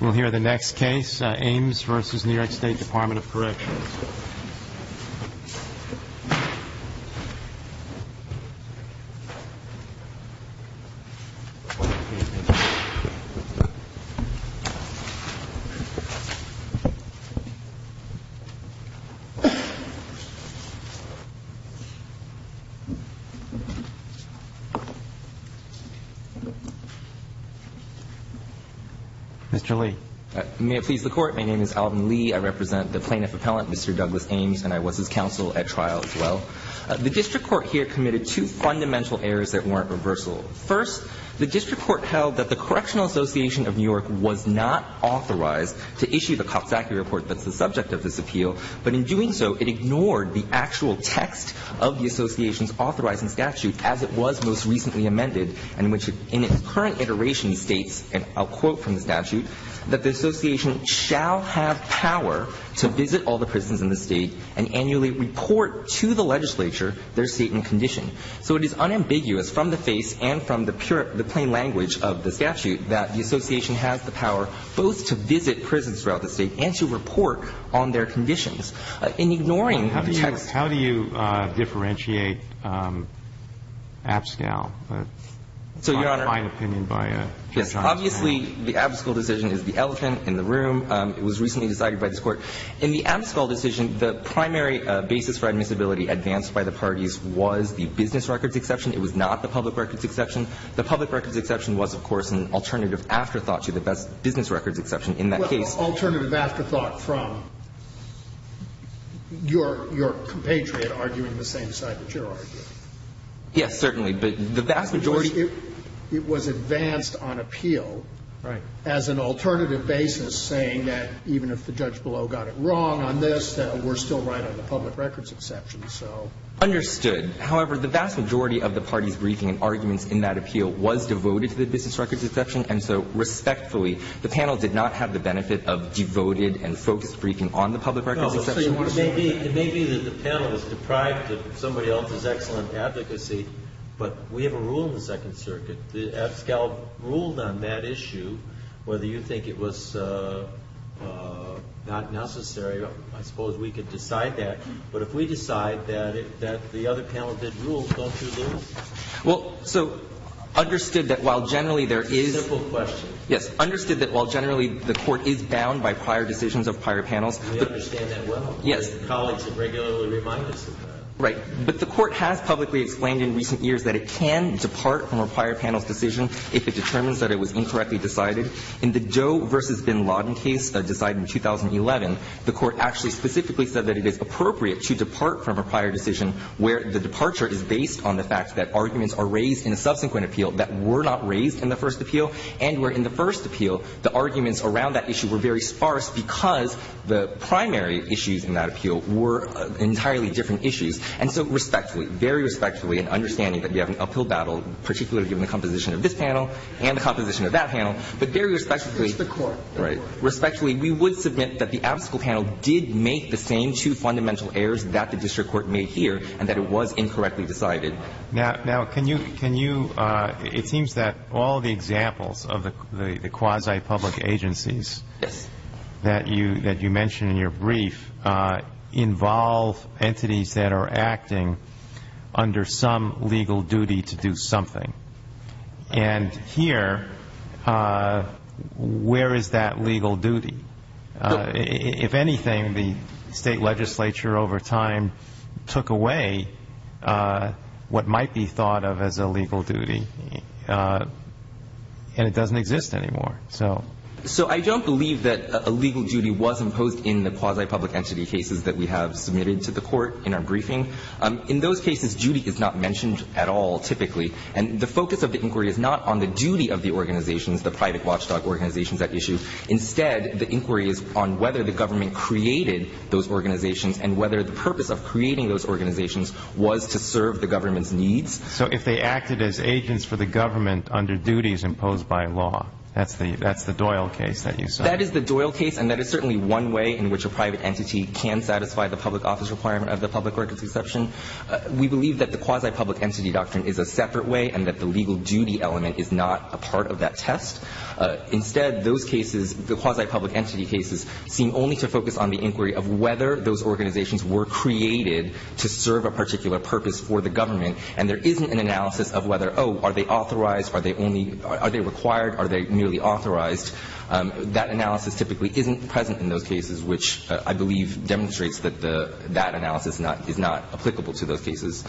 We'll hear the next case, Ames v. New York State Department of Corrections. Mr. Lee. May it please the Court. My name is Alvin Lee. I represent the plaintiff appellant, Mr. Douglas Ames, and I was his counsel at trial as well. The district court here committed two fundamental errors that warrant reversal. First, the district court held that the Correctional Association of New York was not authorized to issue the Coxsackie report that's the subject of this appeal, but in doing so, it ignored the actual text of the association's authorizing statute as it was most recently amended and which in its current iteration states, and I'll quote from the statute, that the association shall have power to visit all the prisons in the state and annually report to the legislature their state and condition. So it is unambiguous from the face and from the plain language of the statute that the association has the power both to visit prisons throughout the state and to report on their conditions. In ignoring the text of the statute. So, Your Honor, obviously, the Abascal decision is the elephant in the room. It was recently decided by this Court. In the Abascal decision, the primary basis for admissibility advanced by the parties was the business records exception. It was not the public records exception. The public records exception was, of course, an alternative afterthought to the business records exception in that case. Well, alternative afterthought from your compatriot arguing the same side that you're arguing. Yes, certainly. But the vast majority. It was advanced on appeal. Right. As an alternative basis saying that even if the judge below got it wrong on this, that we're still right on the public records exception, so. Understood. However, the vast majority of the parties' briefing and arguments in that appeal was devoted to the business records exception. And so, respectfully, the panel did not have the benefit of devoted and focused briefing on the public records exception. It may be that the panel is deprived of somebody else's excellent advocacy, but we have a rule in the Second Circuit. Abascal ruled on that issue. Whether you think it was not necessary, I suppose we could decide that. But if we decide that the other panel did rule, don't you lose? Well, so, understood that while generally there is. Simple question. Yes. Understood that while generally the Court is bound by prior decisions of prior panels. We understand that well. Yes. Because the colleagues have regularly reminded us of that. Right. But the Court has publicly explained in recent years that it can depart from a prior panel's decision if it determines that it was incorrectly decided. In the Joe v. Bin Laden case decided in 2011, the Court actually specifically said that it is appropriate to depart from a prior decision where the departure is based on the fact that arguments are raised in a subsequent appeal that were not raised in the first appeal, and where in the first appeal the arguments around that issue were very sparse because the primary issues in that appeal were entirely different issues. And so respectfully, very respectfully, in understanding that you have an uphill battle, particularly given the composition of this panel and the composition of that panel, but very respectfully. It's the Court. Right. Respectfully, we would submit that the Abascal panel did make the same two fundamental errors that the district court made here and that it was incorrectly decided. Now, can you, can you, it seems that all the examples of the quasi-public agencies that you mentioned in your brief involve entities that are acting under some legal duty to do something. And here, where is that legal duty? If anything, the state legislature over time took away what might be thought of as a legal duty. And it doesn't exist anymore. So I don't believe that a legal duty was imposed in the quasi-public entity cases that we have submitted to the Court in our briefing. In those cases, duty is not mentioned at all, typically. And the focus of the inquiry is not on the duty of the organizations, the private watchdog organizations at issue. Instead, the inquiry is on whether the government created those organizations and whether the purpose of creating those organizations was to serve the government's needs. So if they acted as agents for the government under duties imposed by law, that's the, that's the Doyle case that you said. That is the Doyle case, and that is certainly one way in which a private entity can satisfy the public office requirement of the public records exception. We believe that the quasi-public entity doctrine is a separate way and that the legal duty element is not a part of that test. Instead, those cases, the quasi-public entity cases, seem only to focus on the inquiry of whether those organizations were created to serve a particular purpose for the government. And there isn't an analysis of whether, oh, are they authorized, are they only, are they required, are they merely authorized. That analysis typically isn't present in those cases, which I believe demonstrates that the, that analysis is not applicable to those cases.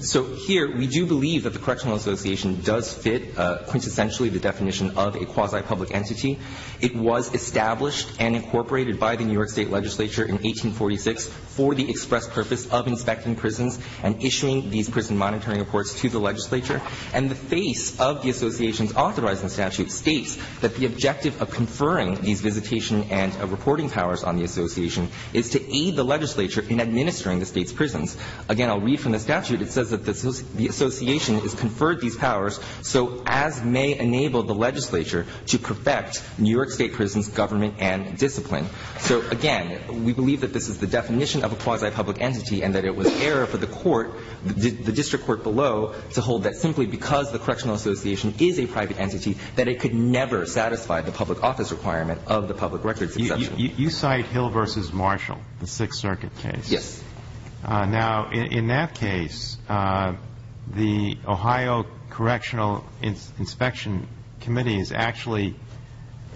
So here, we do believe that the Correctional Association does fit quintessentially the definition of a quasi-public entity. It was established and incorporated by the New York State legislature in 1846 for the express purpose of inspecting prisons and issuing these prison monitoring reports to the legislature. And the face of the association's authorizing statute states that the objective of conferring these visitation and reporting powers on the association is to aid the legislature in administering the State's prisons. Again, I'll read from the statute. It says that the association has conferred these powers so as may enable the legislature to perfect New York State prisons' government and discipline. So, again, we believe that this is the definition of a quasi-public entity and that it was error for the court, the district court below, to hold that simply because the Correctional Association is a private entity, that it could never satisfy the public office requirement of the public records exemption. You cite Hill v. Marshall, the Sixth Circuit case. Yes. Now, in that case, the Ohio Correctional Inspection Committee is actually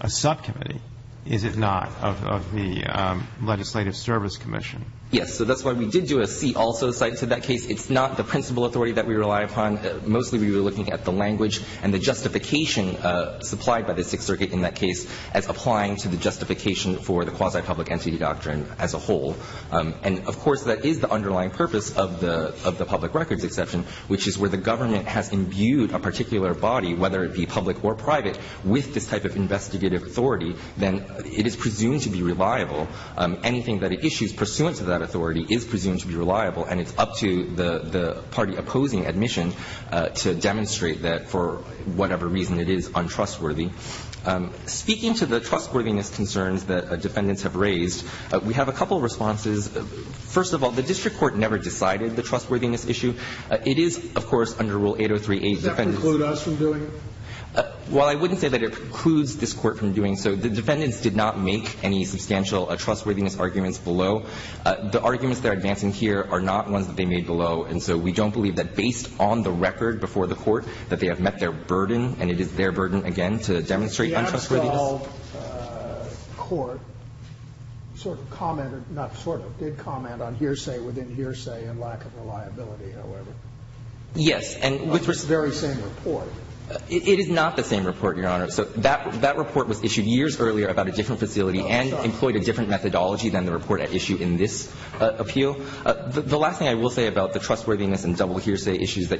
a subcommittee, is it not, of the Legislative Service Commission? Yes. So that's why we did do a C also cited to that case. It's not the principal authority that we rely upon. Mostly we were looking at the language and the justification supplied by the Sixth Circuit in that case as applying to the justification for the quasi-public entity doctrine as a whole. And, of course, that is the underlying purpose of the public records exception, which is where the government has imbued a particular body, whether it be public or private, with this type of investigative authority. Then it is presumed to be reliable. Anything that it issues pursuant to that authority is presumed to be reliable, and it's up to the party opposing admission to demonstrate that for whatever reason it is untrustworthy. Speaking to the trustworthiness concerns that Defendants have raised, we have a couple responses. First of all, the district court never decided the trustworthiness issue. It is, of course, under Rule 803a Defendants. Does that preclude us from doing it? Well, I wouldn't say that it precludes this Court from doing so. The Defendants did not make any substantial trustworthiness arguments below. The arguments that are advancing here are not ones that they made below, and so we don't believe that based on the record before the Court that they have met their burden, and it is their burden again to demonstrate untrustworthiness. And the district court, as I recall, Court sort of commented, not sort of, did comment on hearsay within hearsay and lack of reliability, however. Yes. On the very same report. It is not the same report, Your Honor. So that report was issued years earlier about a different facility and employed a different methodology than the report at issue in this appeal. The last thing I will say about the trustworthiness and double hearsay issues that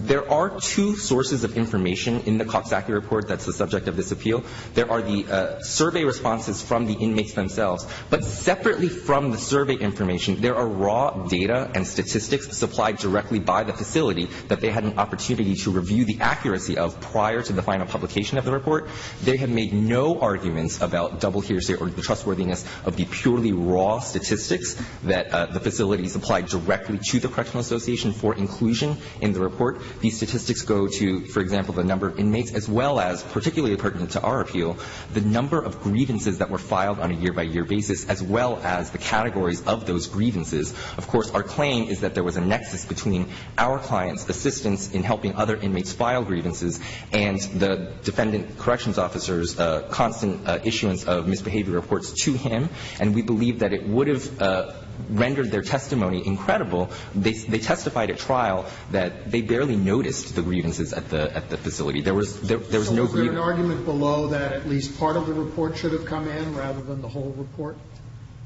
there are two sources of information in the Coxsackie report that's the subject of this appeal. There are the survey responses from the inmates themselves. But separately from the survey information, there are raw data and statistics supplied directly by the facility that they had an opportunity to review the accuracy of prior to the final publication of the report. They have made no arguments about double hearsay or the trustworthiness of the purely raw statistics that the facility supplied directly to the Correctional Association for inclusion in the report. These statistics go to, for example, the number of inmates as well as, particularly pertinent to our appeal, the number of grievances that were filed on a year-by-year basis as well as the categories of those grievances. Of course, our claim is that there was a nexus between our client's assistance in helping other inmates file grievances and the defendant corrections officer's constant issuance of misbehavior reports to him. And we believe that it would have rendered their testimony incredible. They testified at trial that they barely noticed the grievances at the facility. There was no grievance. Scalia. So was there an argument below that at least part of the report should have come in rather than the whole report?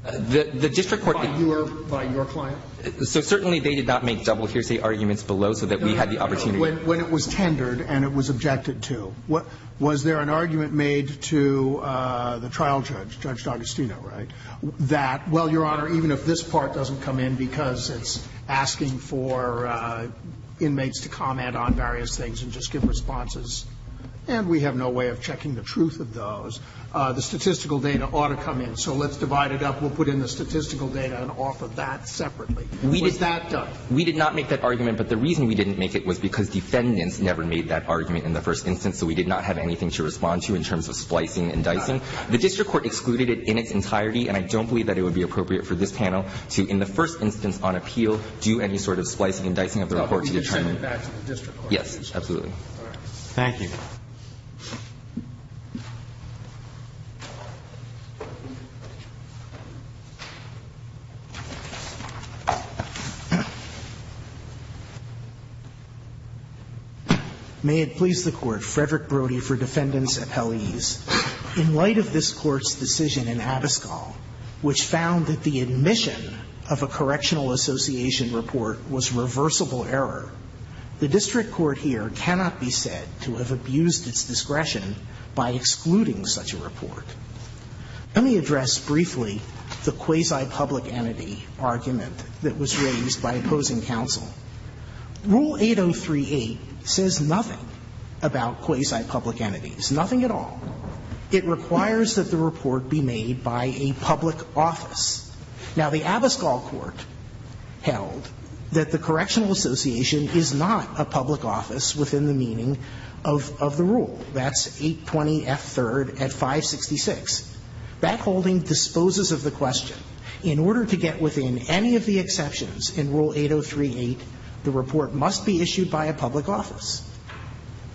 By your client? So certainly they did not make double hearsay arguments below so that we had the opportunity to. Scalia. No, no, no. When it was tendered and it was objected to, was there an argument made to the trial judge, Judge D'Agostino, right, that, well, Your Honor, even if this part doesn't come in because it's asking for inmates to comment on various things and just give responses, and we have no way of checking the truth of those, the statistical data ought to come in. So let's divide it up. We'll put in the statistical data and offer that separately. Was that done? We did not make that argument. But the reason we didn't make it was because defendants never made that argument in the first instance. So we did not have anything to respond to in terms of splicing and dicing. The district court excluded it in its entirety. And I don't believe that it would be appropriate for this panel to, in the first instance on appeal, do any sort of splicing and dicing of the report to determine the truth. Yes, absolutely. Thank you. May it please the Court. Frederick Brody for Defendant's Appellees. In light of this Court's decision in Abascal which found that the admission of a correctional association report was reversible error, the district court here cannot be said to have abused its discretion by excluding such a report. Let me address briefly the quasi-public entity argument that was raised by opposing counsel. Rule 8038 says nothing about quasi-public entities, nothing at all. It requires that the report be made by a public office. Now, the Abascal court held that the correctional association is not a public office within the meaning of the rule. That's 820F3rd at 566. That holding disposes of the question. In order to get within any of the exceptions in Rule 8038, the report must be issued by a public office.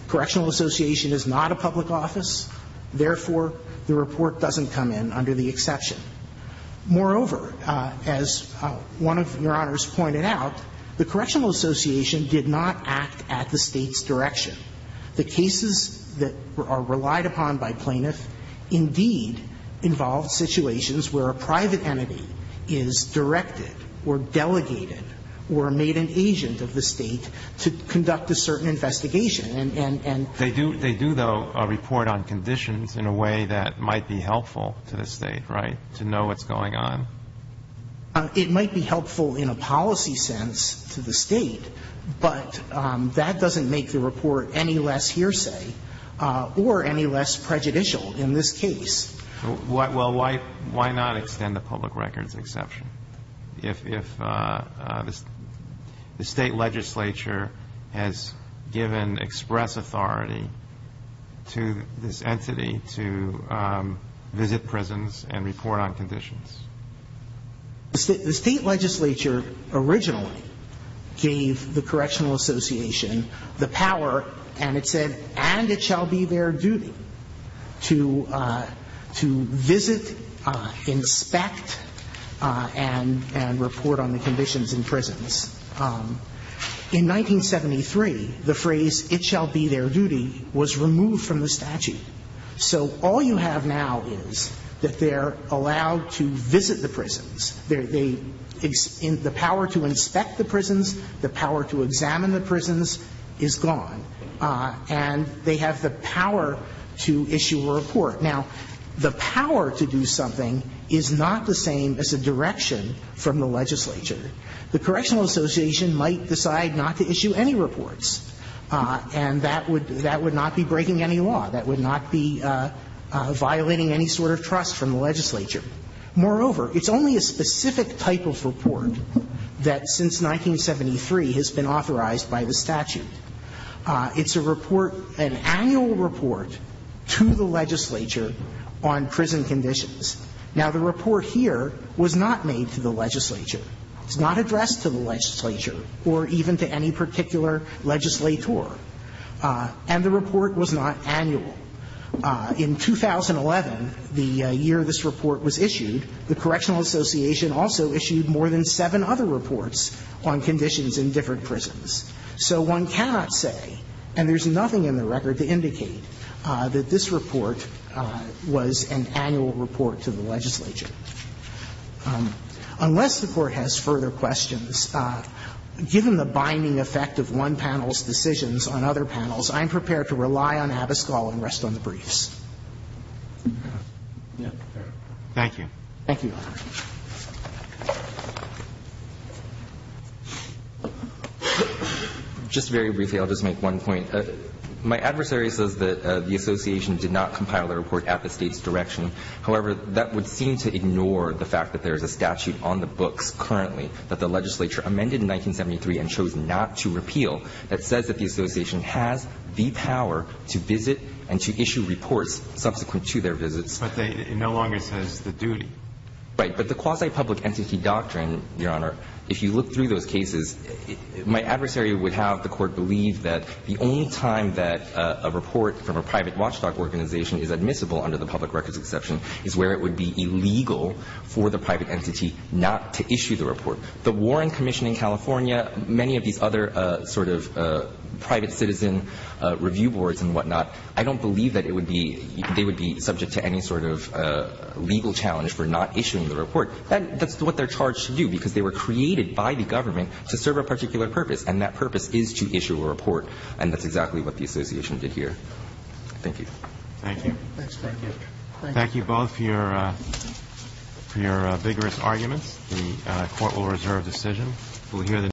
Correctional association is not a public office. Therefore, the report doesn't come in under the exception. Moreover, as one of Your Honors pointed out, the correctional association did not act at the State's direction. The cases that are relied upon by plaintiffs indeed involved situations where a private entity is directed or delegated or made an agent of the State to conduct a certain investigation. And they do, though, a report on conditions in a way that might be helpful to the State, right, to know what's going on? It might be helpful in a policy sense to the State, but that doesn't make the report any less hearsay or any less prejudicial in this case. Well, why not extend the public records exception? If the State legislature has given express authority to this entity to visit prisons and report on conditions? The State legislature originally gave the correctional association the power, and it shall be their duty, to visit, inspect, and report on the conditions in prisons. In 1973, the phrase, it shall be their duty, was removed from the statute. So all you have now is that they're allowed to visit the prisons. The power to inspect the prisons, the power to examine the prisons is gone. And they have the power to issue a report. Now, the power to do something is not the same as a direction from the legislature. The correctional association might decide not to issue any reports. And that would not be breaking any law. That would not be violating any sort of trust from the legislature. Moreover, it's only a specific type of report that, since 1973, has been authorized by the statute. It's a report, an annual report, to the legislature on prison conditions. Now, the report here was not made to the legislature. It's not addressed to the legislature or even to any particular legislator. And the report was not annual. In 2011, the year this report was issued, the correctional association also issued more than seven other reports on conditions in different prisons. So one cannot say, and there's nothing in the record to indicate, that this report was an annual report to the legislature. Unless the Court has further questions, given the binding effect of one panel's decisions on other panels, I'm prepared to rely on Abascal and rest on the briefs. Thank you. Thank you, Your Honor. Just very briefly, I'll just make one point. My adversary says that the association did not compile the report at the State's direction. However, that would seem to ignore the fact that there is a statute on the books currently that the legislature amended in 1973 and chose not to repeal that says that the association has the power to visit and to issue reports subsequent to their visits. But it no longer says the duty. Right. But the quasi-public entity doctrine, Your Honor, if you look through those cases, my adversary would have the Court believe that the only time that a report from a private watchdog organization is admissible under the public records exception is where it would be illegal for the private entity not to issue the report. The Warren Commission in California, many of these other sort of private citizen review boards and whatnot, I don't believe that it would be they would be subject to any sort of legal challenge for not issuing the report. That's what they're charged to do because they were created by the government to serve a particular purpose, and that purpose is to issue a report. And that's exactly what the association did here. Thank you. Thank you. Thank you. Thank you both for your vigorous arguments. The Court will reserve decision.